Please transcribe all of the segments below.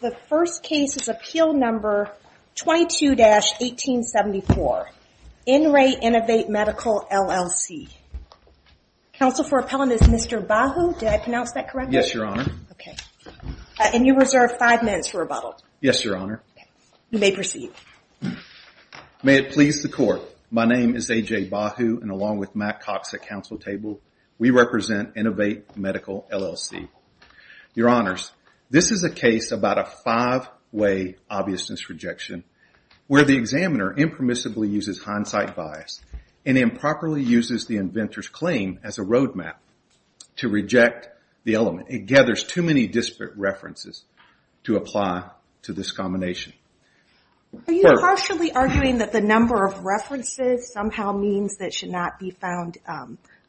The first case is appeal number 22-1874, In Re Innovate Medical, LLC. Counsel for appellant is Mr. Bahu, did I pronounce that correctly? Yes, your honor. Okay. And you reserve five minutes for rebuttal. Yes, your honor. Okay. You may proceed. May it please the court. My name is A.J. Bahu, and along with Matt Cox at counsel table, we represent Innovate Medical, LLC. Your honors, this is a case about a five-way obviousness rejection where the examiner impermissibly uses hindsight bias and improperly uses the inventor's claim as a road map to reject the element. It gathers too many disparate references to apply to this combination. Are you partially arguing that the number of references somehow means that it should not be found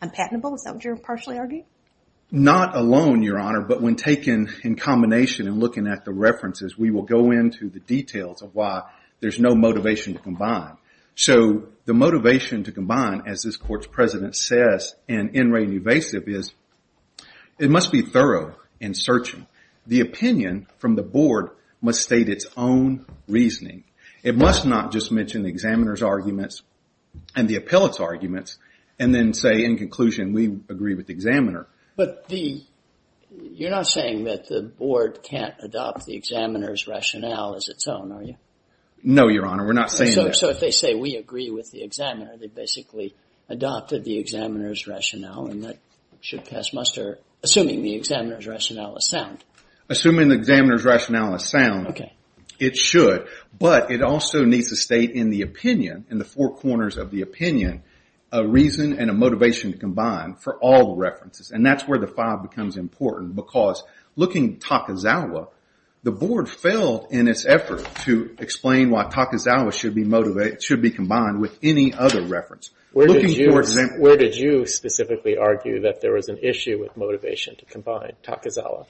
unpatentable, is that what you're partially arguing? Not alone, your honor, but when taken in combination and looking at the references, we will go into the details of why there's no motivation to combine. So the motivation to combine, as this court's president says in In Re Invasive, is it must be thorough in searching. The opinion from the board must state its own reasoning. It must not just mention the examiner's arguments and the appellant's arguments and then say in conclusion, we agree with the examiner. You're not saying that the board can't adopt the examiner's rationale as its own, are you? No, your honor. We're not saying that. So if they say, we agree with the examiner, they basically adopted the examiner's rationale and that should pass muster, assuming the examiner's rationale is sound. Assuming the examiner's rationale is sound, it should, but it also needs to state in the four corners of the opinion, a reason and a motivation to combine for all the references. And that's where the five becomes important because looking at Takazawa, the board failed in its effort to explain why Takazawa should be combined with any other reference. Where did you specifically argue that there was an issue with motivation to combine, Takazawa?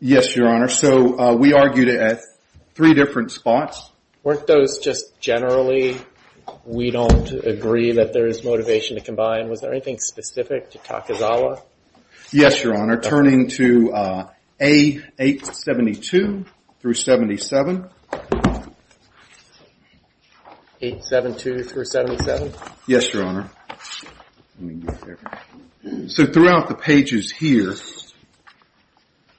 Yes, your honor. So we argued it at three different spots. Weren't those just generally, we don't agree that there is motivation to combine? Was there anything specific to Takazawa? Yes, your honor. Turning to A872 through 77. Yes, your honor. So throughout the pages here,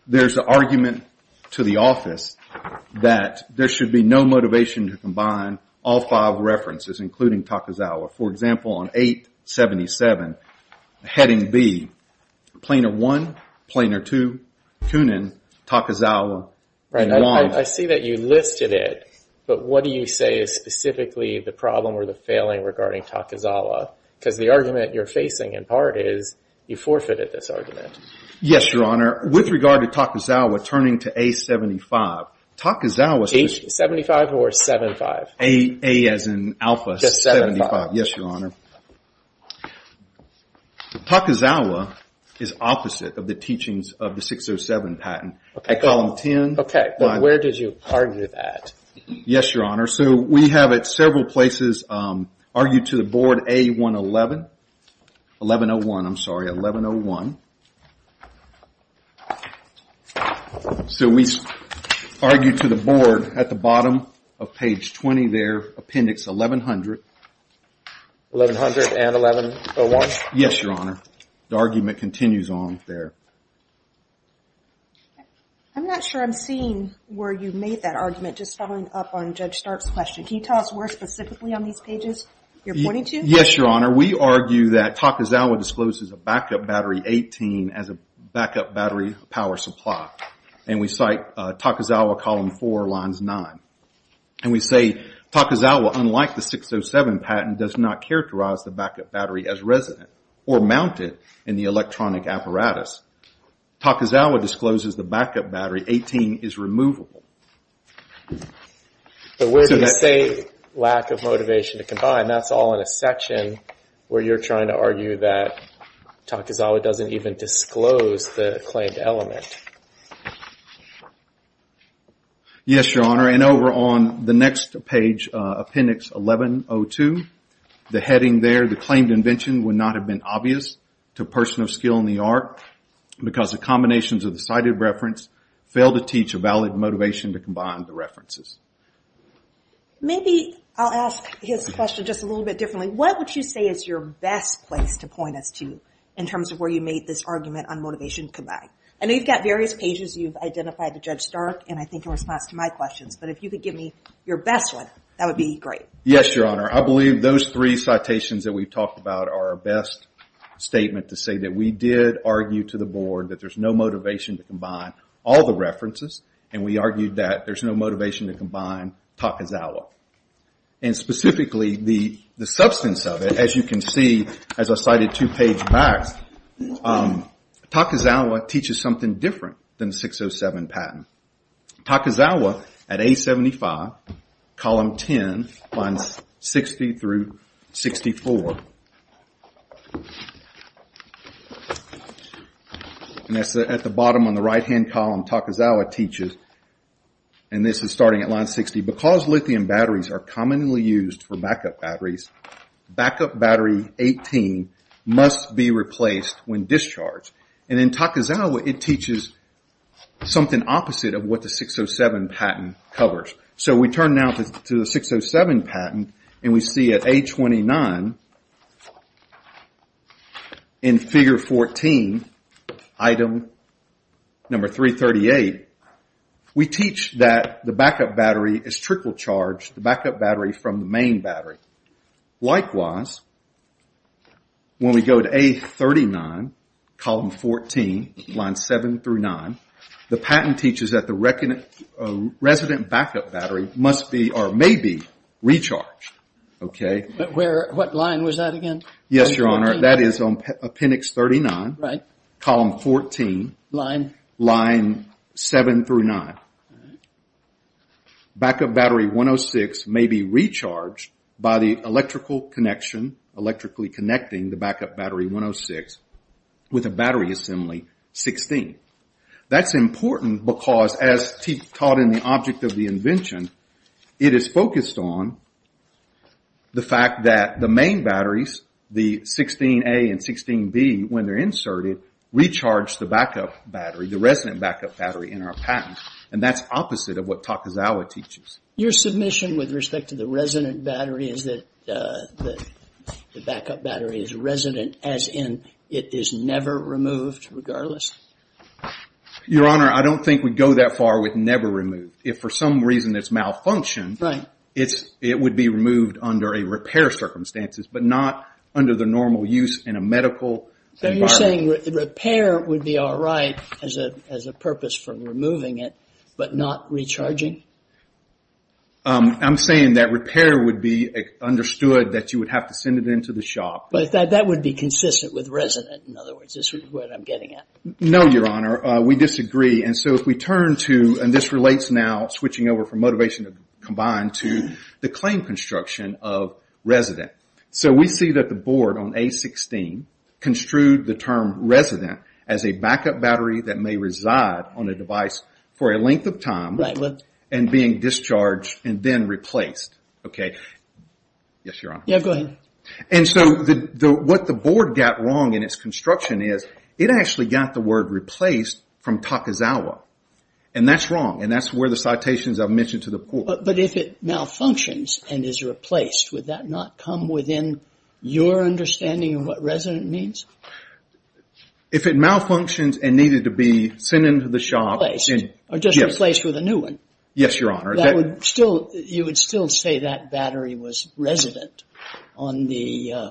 there's an argument to the office that there should be no motivation to combine all five references, including Takazawa. For example, on A877, heading B, planar 1, planar 2, Kunin, Takazawa, and 1. I see that you listed it, but what do you say is specifically the problem or the failing regarding Takazawa? Because the argument you're facing in part is you forfeited this argument. Yes, your honor. With regard to Takazawa turning to A75, Takazawa's just- A75 or 75? A as in alpha 75. Yes, your honor. Takazawa is opposite of the teachings of the 607 patent. I call them 10- Okay, but where did you argue that? Yes, your honor. We have at several places argued to the board A111. 1101, I'm sorry, 1101. So we argued to the board at the bottom of page 20 there, appendix 1100. 1100 and 1101? Yes, your honor. The argument continues on there. I'm not sure I'm seeing where you made that argument just following up on Judge Stark's question. Can you tell us where specifically on these pages you're pointing to? Yes, your honor. We argue that Takazawa discloses a backup battery 18 as a backup battery power supply. And we cite Takazawa column 4, lines 9. And we say Takazawa, unlike the 607 patent, does not characterize the backup battery as resident or mounted in the electronic apparatus. Takazawa discloses the backup battery 18 is removable. But where do you say lack of motivation to combine? That's all in a section where you're trying to argue that Takazawa doesn't even disclose the claimed element. Yes, your honor. And over on the next page, appendix 1102, the heading there, the claimed invention would not have been obvious to a person of skill in the art because the combinations of the cited reference fail to teach a valid motivation to combine the references. Maybe I'll ask his question just a little bit differently. What would you say is your best place to point us to in terms of where you made this argument on motivation to combine? I know you've got various pages you've identified to Judge Stark and I think your response to my questions. But if you could give me your best one, that would be great. Yes, your honor. I believe those three citations that we've talked about are our best statement to say that we did argue to the board that there's no motivation to combine all the references and we argued that there's no motivation to combine Takazawa. And specifically, the substance of it, as you can see, as I cited two pages back, Takazawa teaches something different than 607 patent. Takazawa, at A75, column 10, lines 60 through 64, and that's at the bottom on the right-hand column, Takazawa teaches, and this is starting at line 60, because lithium batteries are commonly used for backup batteries, backup battery 18 must be replaced when discharged. And in Takazawa, it teaches something opposite of what the 607 patent covers. So we turn now to the 607 patent and we see at A29, in figure 14, item number 338, we teach that the backup battery is trickle-charged, the backup battery from the main battery. Likewise, when we go to A39, column 14, line 7 through 9, the patent teaches that the resident backup battery must be, or may be, recharged. But what line was that again? Yes, Your Honor, that is on appendix 39, column 14, line 7 through 9. Backup battery 106 may be recharged by the electrical connection, electrically connecting the backup battery 106 with a battery assembly 16. That's important because, as taught in the object of the invention, it is focused on the fact that the main batteries, the 16A and 16B, when they're inserted, recharge the backup battery, the resident backup battery in our patent. And that's opposite of what Takazawa teaches. Your submission with respect to the resident battery is that the backup battery is resident as in it is never removed regardless? Your Honor, I don't think we'd go that far with never removed. If for some reason it's malfunctioned, it would be removed under a repair circumstances, but not under the normal use in a medical environment. You're saying repair would be all right as a purpose for removing it, but not recharging? I'm saying that repair would be understood that you would have to send it into the shop. But that would be consistent with resident, in other words, is what I'm getting at. No, Your Honor, we disagree. And so if we turn to, and this relates now, switching over from motivation combined, to the claim construction of resident. So we see that the board on A16 construed the term resident as a backup battery that may reside on a device for a length of time and being discharged and then replaced. Yes, Your Honor. Go ahead. And so what the board got wrong in its construction is, it actually got the word replaced from Takazawa. And that's wrong, and that's where the citations I've mentioned to the board. But if it malfunctions and is replaced, would that not come within your understanding of what resident means? If it malfunctions and needed to be sent into the shop... Replaced, or just replaced with a new one? Yes, Your Honor. You would still say that battery was resident on the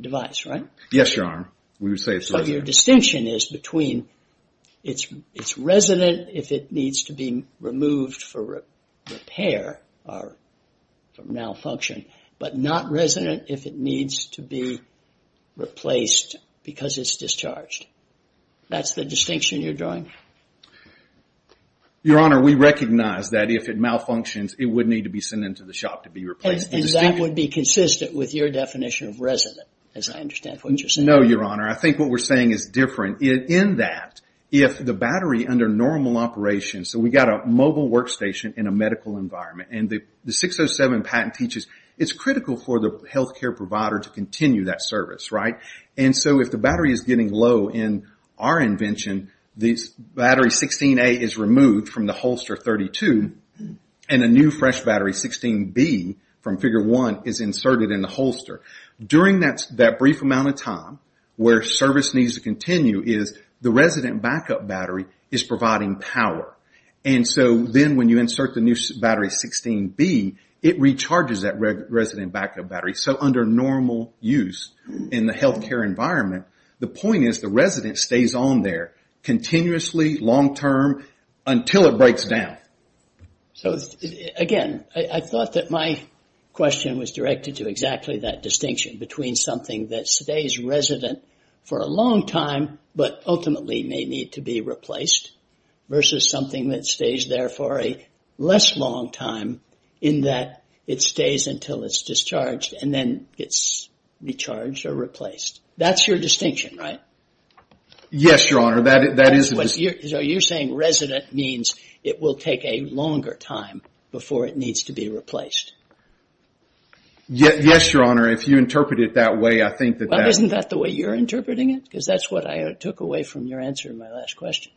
device, right? Yes, Your Honor, we would say it's resident. So your distinction is between, it's resident if it needs to be removed for repair or malfunction, but not resident if it needs to be replaced because it's discharged. That's the distinction you're drawing? Your Honor, we recognize that if it malfunctions, it would need to be sent into the shop to be replaced. And that would be consistent with your definition of resident, as I understand what you're saying. No, Your Honor. I think what we're saying is different in that if the battery under normal operations, so we've got a mobile workstation in a medical environment, and the 607 patent teaches it's critical for the health care provider to continue that service, right? And so if the battery is getting low in our invention, this battery 16A is removed from the holster 32, and a new fresh battery 16B from figure one is inserted in the holster. During that brief amount of time where service needs to continue is the resident backup battery is providing power. And so then when you insert the new battery 16B, it recharges that resident backup battery. So under normal use in the health care environment, the point is the resident stays on there continuously, long term, until it breaks down. So again, I thought that my question was directed to exactly that distinction between something that stays resident for a long time, but ultimately may need to be replaced, versus something that stays there for a less long time in that it stays until it's discharged, and then it's recharged or replaced. That's your distinction, right? Yes, Your Honor, that is the distinction. So you're saying resident means it will take a longer time before it needs to be replaced? Yes, Your Honor, if you interpret it that way, I think that... Isn't that the way you're interpreting it? Because that's what I took away from your answer in my last question.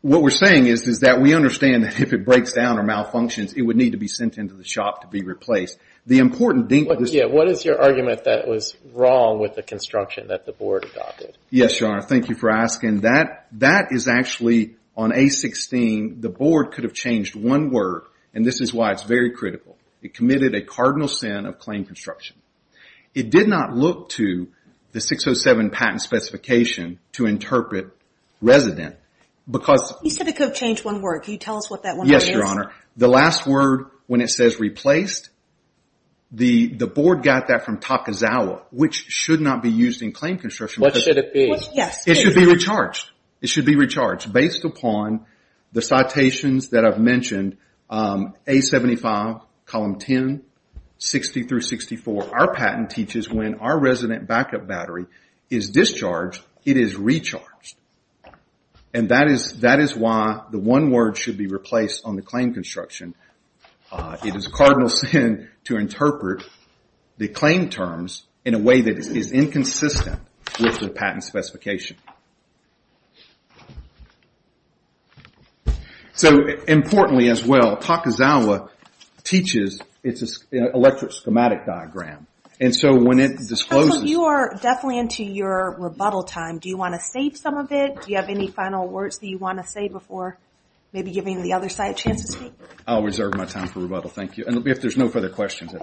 What we're saying is that we understand that if it breaks down or malfunctions, it would need to be sent into the shop to be replaced. What is your argument that was wrong with the construction that the board adopted? Yes, Your Honor, thank you for asking. That is actually, on A-16, the board could have changed one word, and this is why it's very critical. It committed a cardinal sin of claim construction. It did not look to the 607 patent specification to interpret resident. You said it could have changed one word. Can you tell us what that one word is? Yes, Your Honor. The last word, when it says replaced, the board got that from Takazawa, which should not be used in claim construction. What should it be? It should be recharged. Based upon the citations that I've mentioned, A-75, column 10, 60 through 64, our patent teaches when our resident backup battery is discharged, it is recharged. And that is why the one word should be replaced on the claim construction. It is a cardinal sin to interpret the claim terms in a way that is inconsistent with the patent specification. Importantly as well, Takazawa teaches its electric schematic diagram. So when it discloses... You are definitely into your rebuttal time. Do you want to save some of it? Do you have any final words that you want to say before giving the other side a chance to speak? I'll reserve my time for rebuttal. Thank you. If there's no further questions...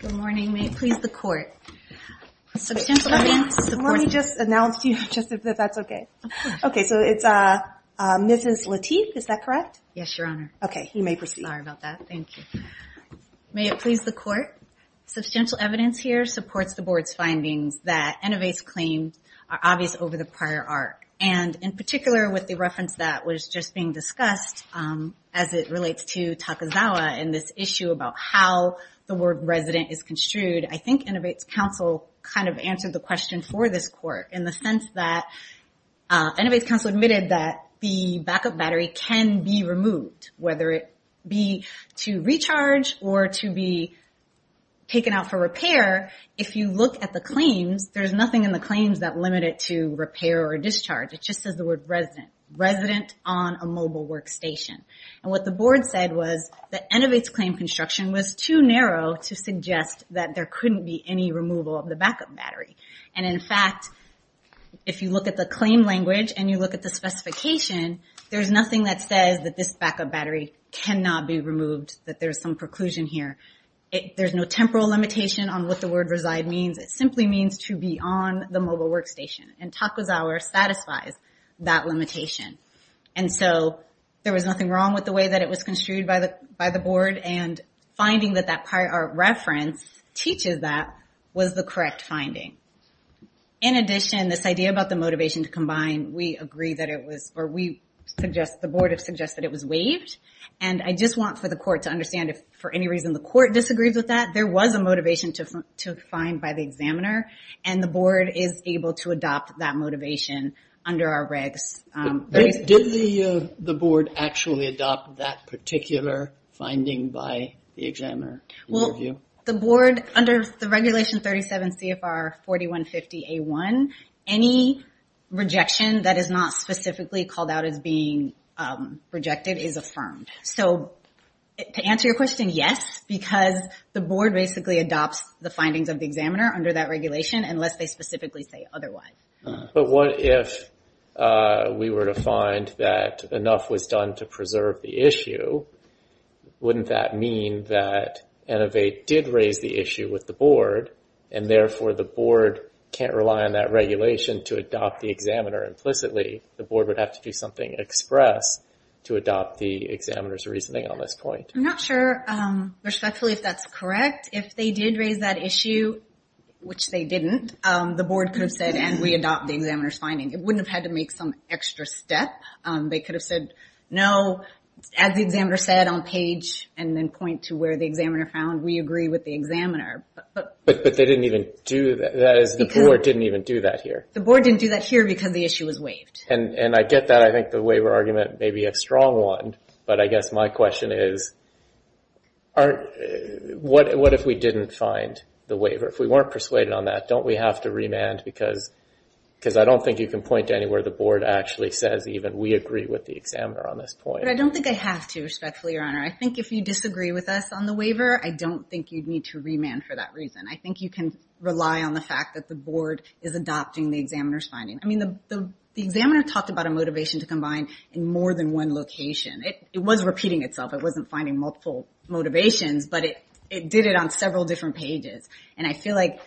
Good morning. May it please the court. Substantial evidence supports... Let me just announce to you, just if that's okay. Okay, so it's Mrs. Lateef, is that correct? Yes, Your Honor. Okay, you may proceed. Sorry about that. Thank you. May it please the court. Substantial evidence here supports the board's findings that Innovate's claims are obvious over the prior arc. And in particular with the reference that was just being discussed as it relates to Takazawa and this issue about how the word resident is construed, I think Innovate's counsel kind of answered the question for this court in the sense that Innovate's counsel admitted that the backup battery can be removed, whether it be to recharge or to be taken out for repair. If you look at the claims, there's nothing in the claims that limit it to repair or discharge. It just says the word resident, resident on a mobile workstation. And what the board said was that Innovate's claim construction was too narrow to suggest that there couldn't be any removal of the backup battery. And in fact, if you look at the claim language and you look at the specification, there's nothing that says that this backup battery cannot be removed, that there's some preclusion here. There's no temporal limitation on what the word reside means. It simply means to be on the mobile workstation. And Takazawa satisfies that limitation. And so there was nothing wrong with the way that it was construed by the board. And finding that that prior art reference teaches that was the correct finding. In addition, this idea about the motivation to combine, we agree that it was, or we suggest, the board has suggested it was waived. And I just want for the court to understand if for any reason the court disagrees with that, there was a motivation to find by the examiner and the board is able to adopt that motivation under our regs. Did the board actually adopt that particular finding by the examiner? Well, the board, under the regulation 37 CFR 4150A1, any rejection that is not specifically called out as being rejected is affirmed. So to answer your question, yes, because the board basically adopts the findings of the examiner under that regulation unless they specifically say otherwise. But what if we were to find that enough was done to preserve the issue? Wouldn't that mean that Innovate did raise the issue with the board, and therefore the board can't rely on that regulation to adopt the examiner implicitly? The board would have to do something express to adopt the examiner's reasoning on this point. I'm not sure respectfully if that's correct. If they did raise that issue, which they didn't, the board could have said, and we adopt the examiner's finding. It wouldn't have had to make some extra step. They could have said, no, as the examiner said on page and then point to where the examiner found, we agree with the examiner. But they didn't even do that. The board didn't even do that here. The board didn't do that here because the issue was waived. And I get that. I think the waiver argument may be a strong one. But I guess my question is, what if we didn't find the waiver? If we weren't persuaded on that, don't we have to remand? Because I don't think you can point to anywhere the board actually says even we agree with the examiner on this point. But I don't think I have to, respectfully, Your Honor. I think if you disagree with us on the waiver, I don't think you'd need to remand for that reason. I think you can rely on the fact that the board is adopting the examiner's finding. I mean, the examiner talked about a motivation to combine in more than one location. It was repeating itself. It wasn't finding multiple motivations. But it did it on several different pages. And I feel like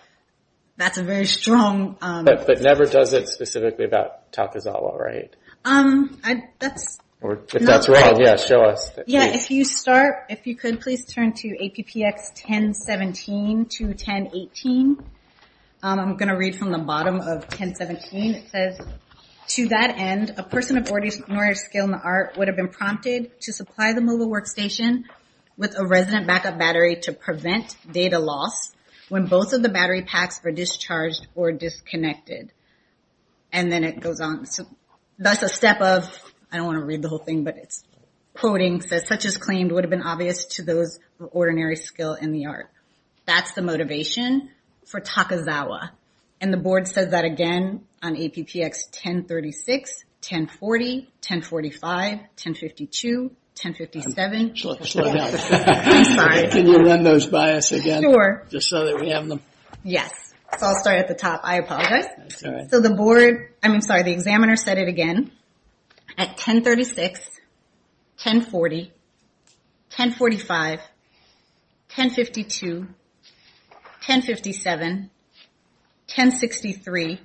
that's a very strong... But never does it specifically about Takazawa, right? That's... If that's right, yeah, show us. Yeah, if you start, if you could please turn to APPX 1017 to 1018. I'm going to read from the bottom of 1017. It says, to that end, a person of ordinary skill in the art would have been prompted to supply the mobile workstation with a resident backup battery to prevent data loss when both of the battery packs were discharged or disconnected. And then it goes on. That's a step of... I don't want to read the whole thing, but it's quoting. It says, such as claimed would have been obvious to those of ordinary skill in the art. That's the motivation for Takazawa. And the board said that again on APPX 1036, 1040, 1045, 1052, 1057. Slow down. I'm sorry. Can you run those by us again? Sure. Just so that we have them. Yes. So I'll start at the top. I apologize. That's all right. So the board, I mean, sorry, the examiner said it again. At 1036, 1040, 1045, 1052, 1057, 1063,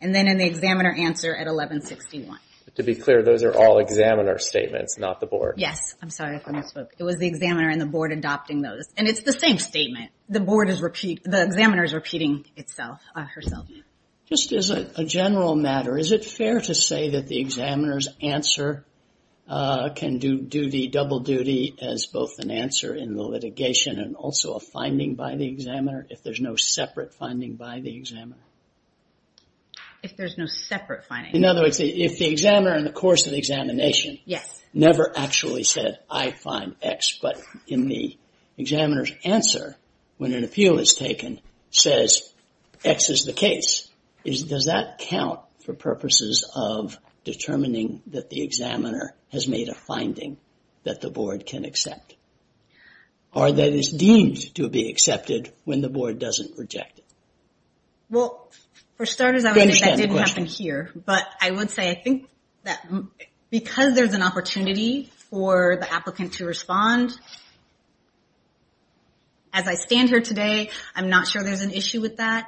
and then in the examiner answer at 1161. To be clear, those are all examiner statements, not the board. Yes. I'm sorry if I misspoke. It was the examiner and the board adopting those. And it's the same statement. The board is repeat... The examiner is repeating herself. Just as a general matter, is it fair to say that the examiner's answer can do the double duty as both an answer in the litigation and also a finding by the examiner if there's no separate finding by the examiner? If there's no separate finding. In other words, if the examiner in the course of the examination never actually said, I find X, but in the examiner's answer, when an appeal is taken, says X is the case. Does that count for purposes of determining that the examiner has made a finding that the board can accept? Or that is deemed to be accepted when the board doesn't reject it? Well, for starters, I would say that didn't happen here. But I would say I think that because there's an opportunity for the applicant to respond. As I stand here today, I'm not sure there's an issue with that.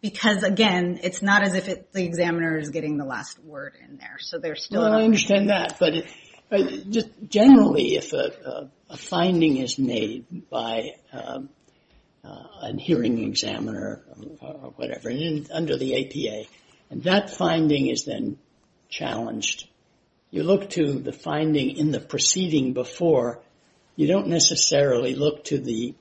Because, again, it's not as if the examiner is getting the last word in there. So there's still... Well, I understand that. But generally, if a finding is made by a hearing examiner or whatever, under the APA, and that finding is then challenged, you look to the finding in the proceeding before. You don't necessarily look to the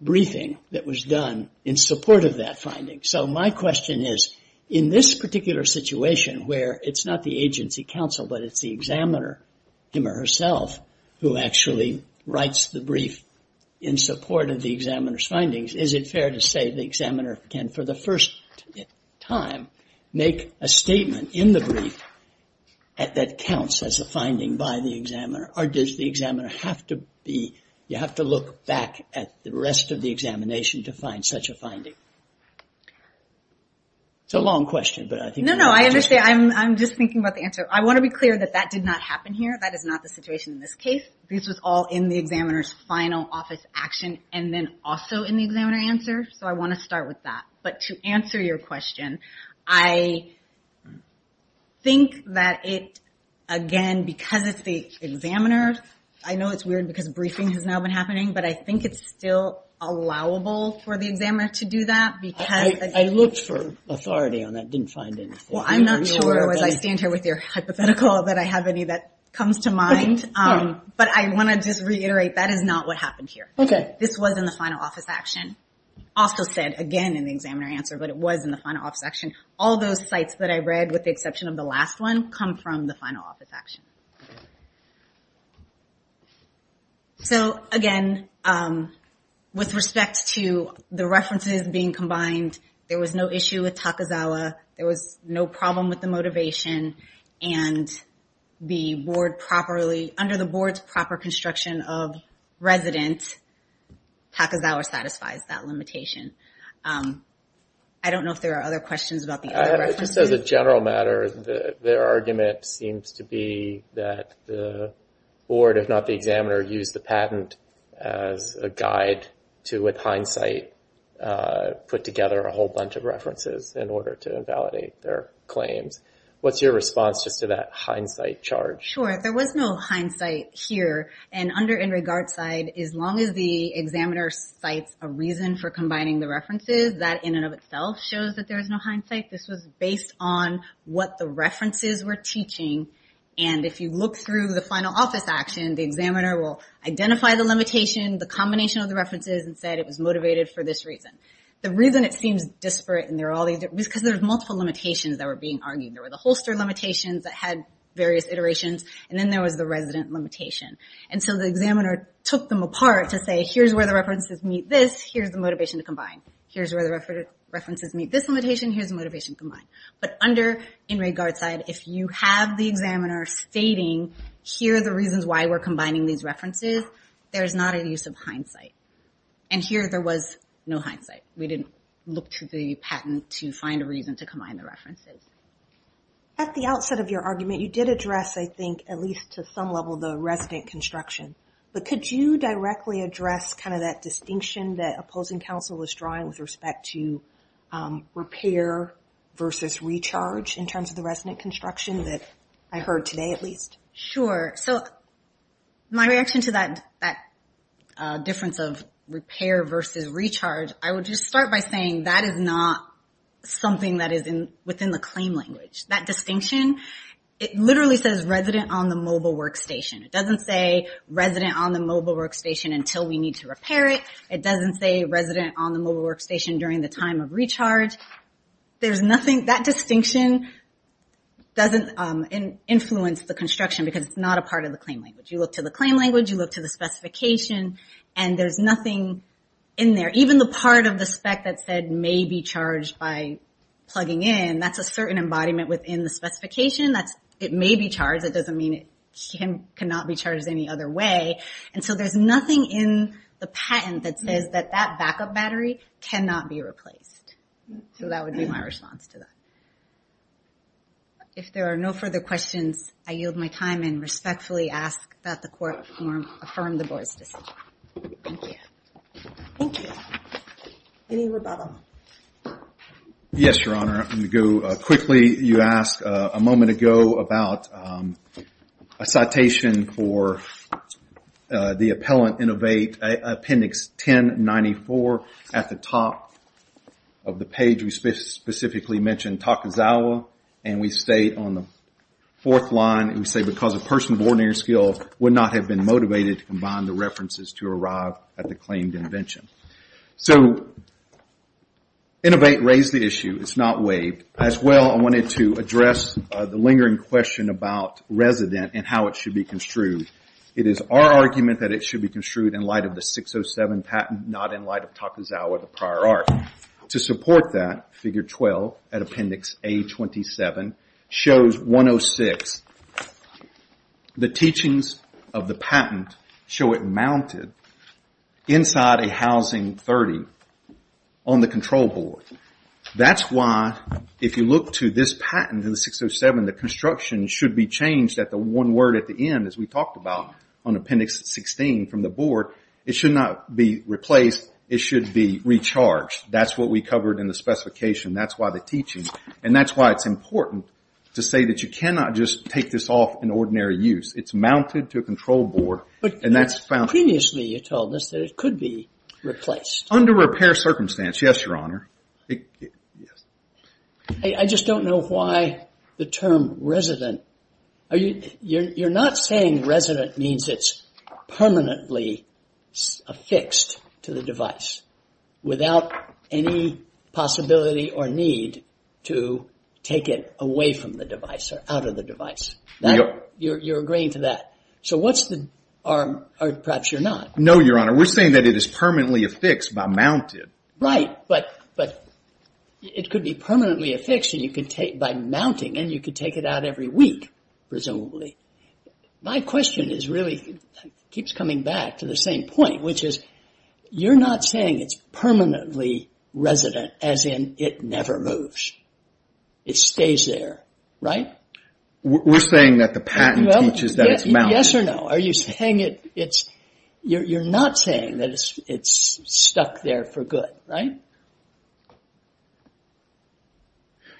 briefing that was done in support of that finding. So my question is, in this particular situation, where it's not the agency counsel, but it's the examiner him or herself who actually writes the brief in support of the examiner's findings, is it fair to say the examiner can, for the first time, make a statement in the brief that counts as a finding by the examiner? Or does the examiner have to be... You have to look back at the rest of the examination to find such a finding? It's a long question, but I think... No, no, I understand. I'm just thinking about the answer. I want to be clear that that did not happen here. That is not the situation in this case. This was all in the examiner's final office action and then also in the examiner answer. So I want to start with that. But to answer your question, I think that it, again, because it's the examiner... I know it's weird because briefing has now been happening, but I think it's still allowable for the examiner to do that because... I looked for authority on that, didn't find anything. Well, I'm not sure, as I stand here with your hypothetical, that I have any that comes to mind. But I want to just reiterate, that is not what happened here. This was in the final office action. I also said, again, in the examiner answer, but it was in the final office action. All those sites that I read, with the exception of the last one, come from the final office action. So, again, with respect to the references being combined, there was no issue with Takazawa, there was no problem with the motivation, and under the board's proper construction of residents, Takazawa satisfies that limitation. I don't know if there are other questions about the other references. Just as a general matter, their argument seems to be that the board, if not the examiner, used the patent as a guide to, with hindsight, put together a whole bunch of references in order to invalidate their claims. What's your response just to that hindsight charge? Sure, there was no hindsight here. Under in regard side, as long as the examiner cites a reason for combining the references, that in and of itself shows that there is no hindsight. This was based on what the references were teaching, and if you look through the final office action, the examiner will identify the limitation, the combination of the references, and said it was motivated for this reason. The reason it seems disparate, because there's multiple limitations that were being argued. There were the holster limitations that had various iterations, and then there was the resident limitation. The examiner took them apart to say, here's where the references meet this, here's the motivation to combine. Here's where the references meet this limitation, here's the motivation to combine. Under in regard side, if you have the examiner stating, here are the reasons why we're combining these references, there's not a use of hindsight. Here, there was no hindsight. We didn't look through the patent to find a reason to combine the references. At the outset of your argument, you did address, I think, at least to some level, the resident construction. Could you directly address that distinction that opposing counsel was drawing with respect to repair versus recharge in terms of the resident construction that I heard today, at least? Sure. My reaction to that difference of repair versus recharge, I would just start by saying that is not something that is within the claim language. That distinction, it literally says resident on the mobile workstation. It doesn't say resident on the mobile workstation until we need to repair it. It doesn't say resident on the mobile workstation during the time of recharge. That distinction doesn't influence the construction because it's not a part of the claim language. You look to the claim language, you look to the specification, and there's nothing in there. Even the part of the spec that said may be charged by plugging in, that's a certain embodiment within the specification. It may be charged, it doesn't mean it cannot be charged any other way. There's nothing in the patent that says that that backup battery cannot be replaced. That would be my response to that. If there are no further questions, I yield my time and respectfully ask that the court affirm the board's decision. Thank you. Thank you. Any rebuttal? Yes, Your Honor. I'm going to go quickly. You asked a moment ago about a citation for the Appellant Innovate, Appendix 1094 at the top of the page. We specifically mentioned Takazawa, and we state on the fourth line, we say because a person of ordinary skill would not have been motivated to combine the references to arrive at the claimed invention. Innovate raised the issue. It's not waived. As well, I wanted to address the lingering question about resident and how it should be construed. It is our argument that it should be construed in light of the 607 patent, not in light of Takazawa, the prior art. To support that, Figure 12 at Appendix A27 shows 106. The teachings of the patent show it mounted inside a Housing 30 on the control board. That's why, if you look to this patent in 607, the construction should be changed at the one word at the end, as we talked about on Appendix 16 from the board. It should not be replaced. It should be recharged. That's what we covered in the specification. That's why the teaching, and that's why it's important to say that you cannot just take this off in ordinary use. It's mounted to a control board. Previously, you told us that it could be replaced. Under repair circumstance, yes, Your Honor. I just don't know why the term resident. You're not saying resident means it's permanently affixed to the device without any possibility or need to take it away from the device or out of the device. You're agreeing to that. Perhaps you're not. No, Your Honor. We're saying that it is permanently affixed by mounted. Right, but it could be permanently affixed by mounting, and you could take it out every week, presumably. My question really keeps coming back to the same point, which is you're not saying it's permanently resident as in it never moves. It stays there, right? We're saying that the patent teaches that it's mounted. Yes or no? You're not saying that it's stuck there for good, right?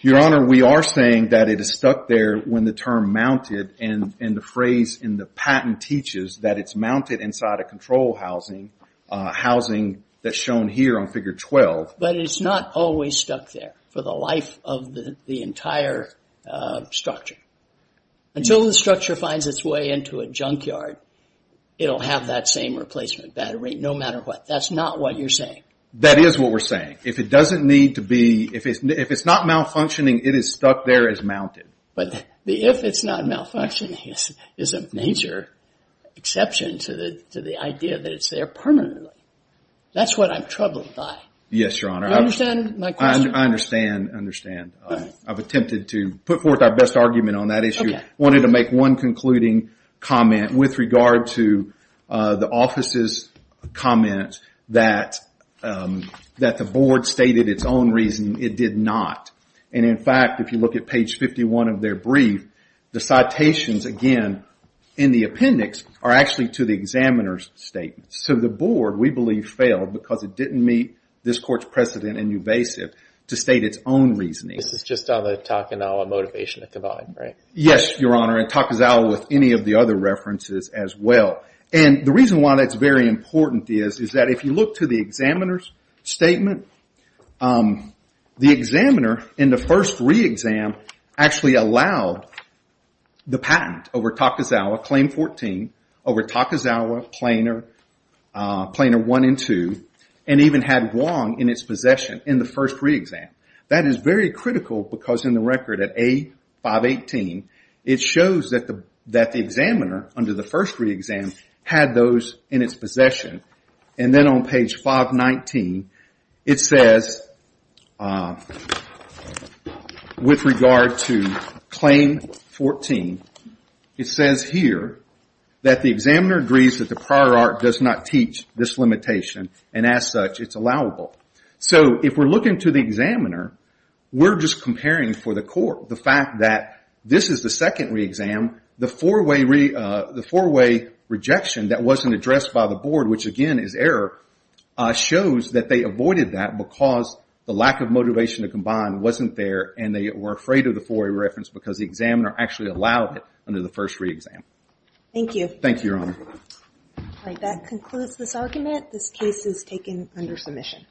Your Honor, we are saying that it is stuck there when the term mounted and the phrase in the patent teaches that it's mounted inside a control housing, a housing that's shown here on Figure 12. But it's not always stuck there for the life of the entire structure. Until the structure finds its way into a junkyard, it'll have that same replacement battery no matter what. That's not what you're saying. That is what we're saying. If it's not malfunctioning, it is stuck there as mounted. But the if it's not malfunctioning is a major exception to the idea that it's there permanently. That's what I'm troubled by. Yes, Your Honor. Do you understand my question? I understand. I've attempted to put forth our best argument on that issue. I wanted to make one concluding comment with regard to the office's comment that the board stated its own reason it did not. And, in fact, if you look at page 51 of their brief, the citations again in the appendix are actually to the examiner's statement. So the board, we believe, failed because it didn't meet this court's precedent in ubasive to state its own reasoning. This is just on the Takazawa motivation at the bottom, right? Yes, Your Honor, and Takazawa with any of the other references as well. And the reason why that's very important is that if you look to the examiner's statement, the examiner in the first re-exam actually allowed the patent over Takazawa, claim 14, over Takazawa, plainer 1 and 2, and even had Wong in its possession in the first re-exam. That is very critical because in the record at A518, it shows that the examiner under the first re-exam had those in its possession. And then on page 519, it says, with regard to claim 14, it says here that the examiner agrees that the prior art does not teach this limitation and, as such, it's allowable. So if we're looking to the examiner, we're just comparing for the court the fact that this is the second re-exam, the four-way rejection that wasn't addressed by the board, which again is error, shows that they avoided that because the lack of motivation to combine wasn't there and they were afraid of the four-way reference because the examiner actually allowed it under the first re-exam. Thank you. Thank you, Your Honor. All right, that concludes this argument. This case is taken under submission.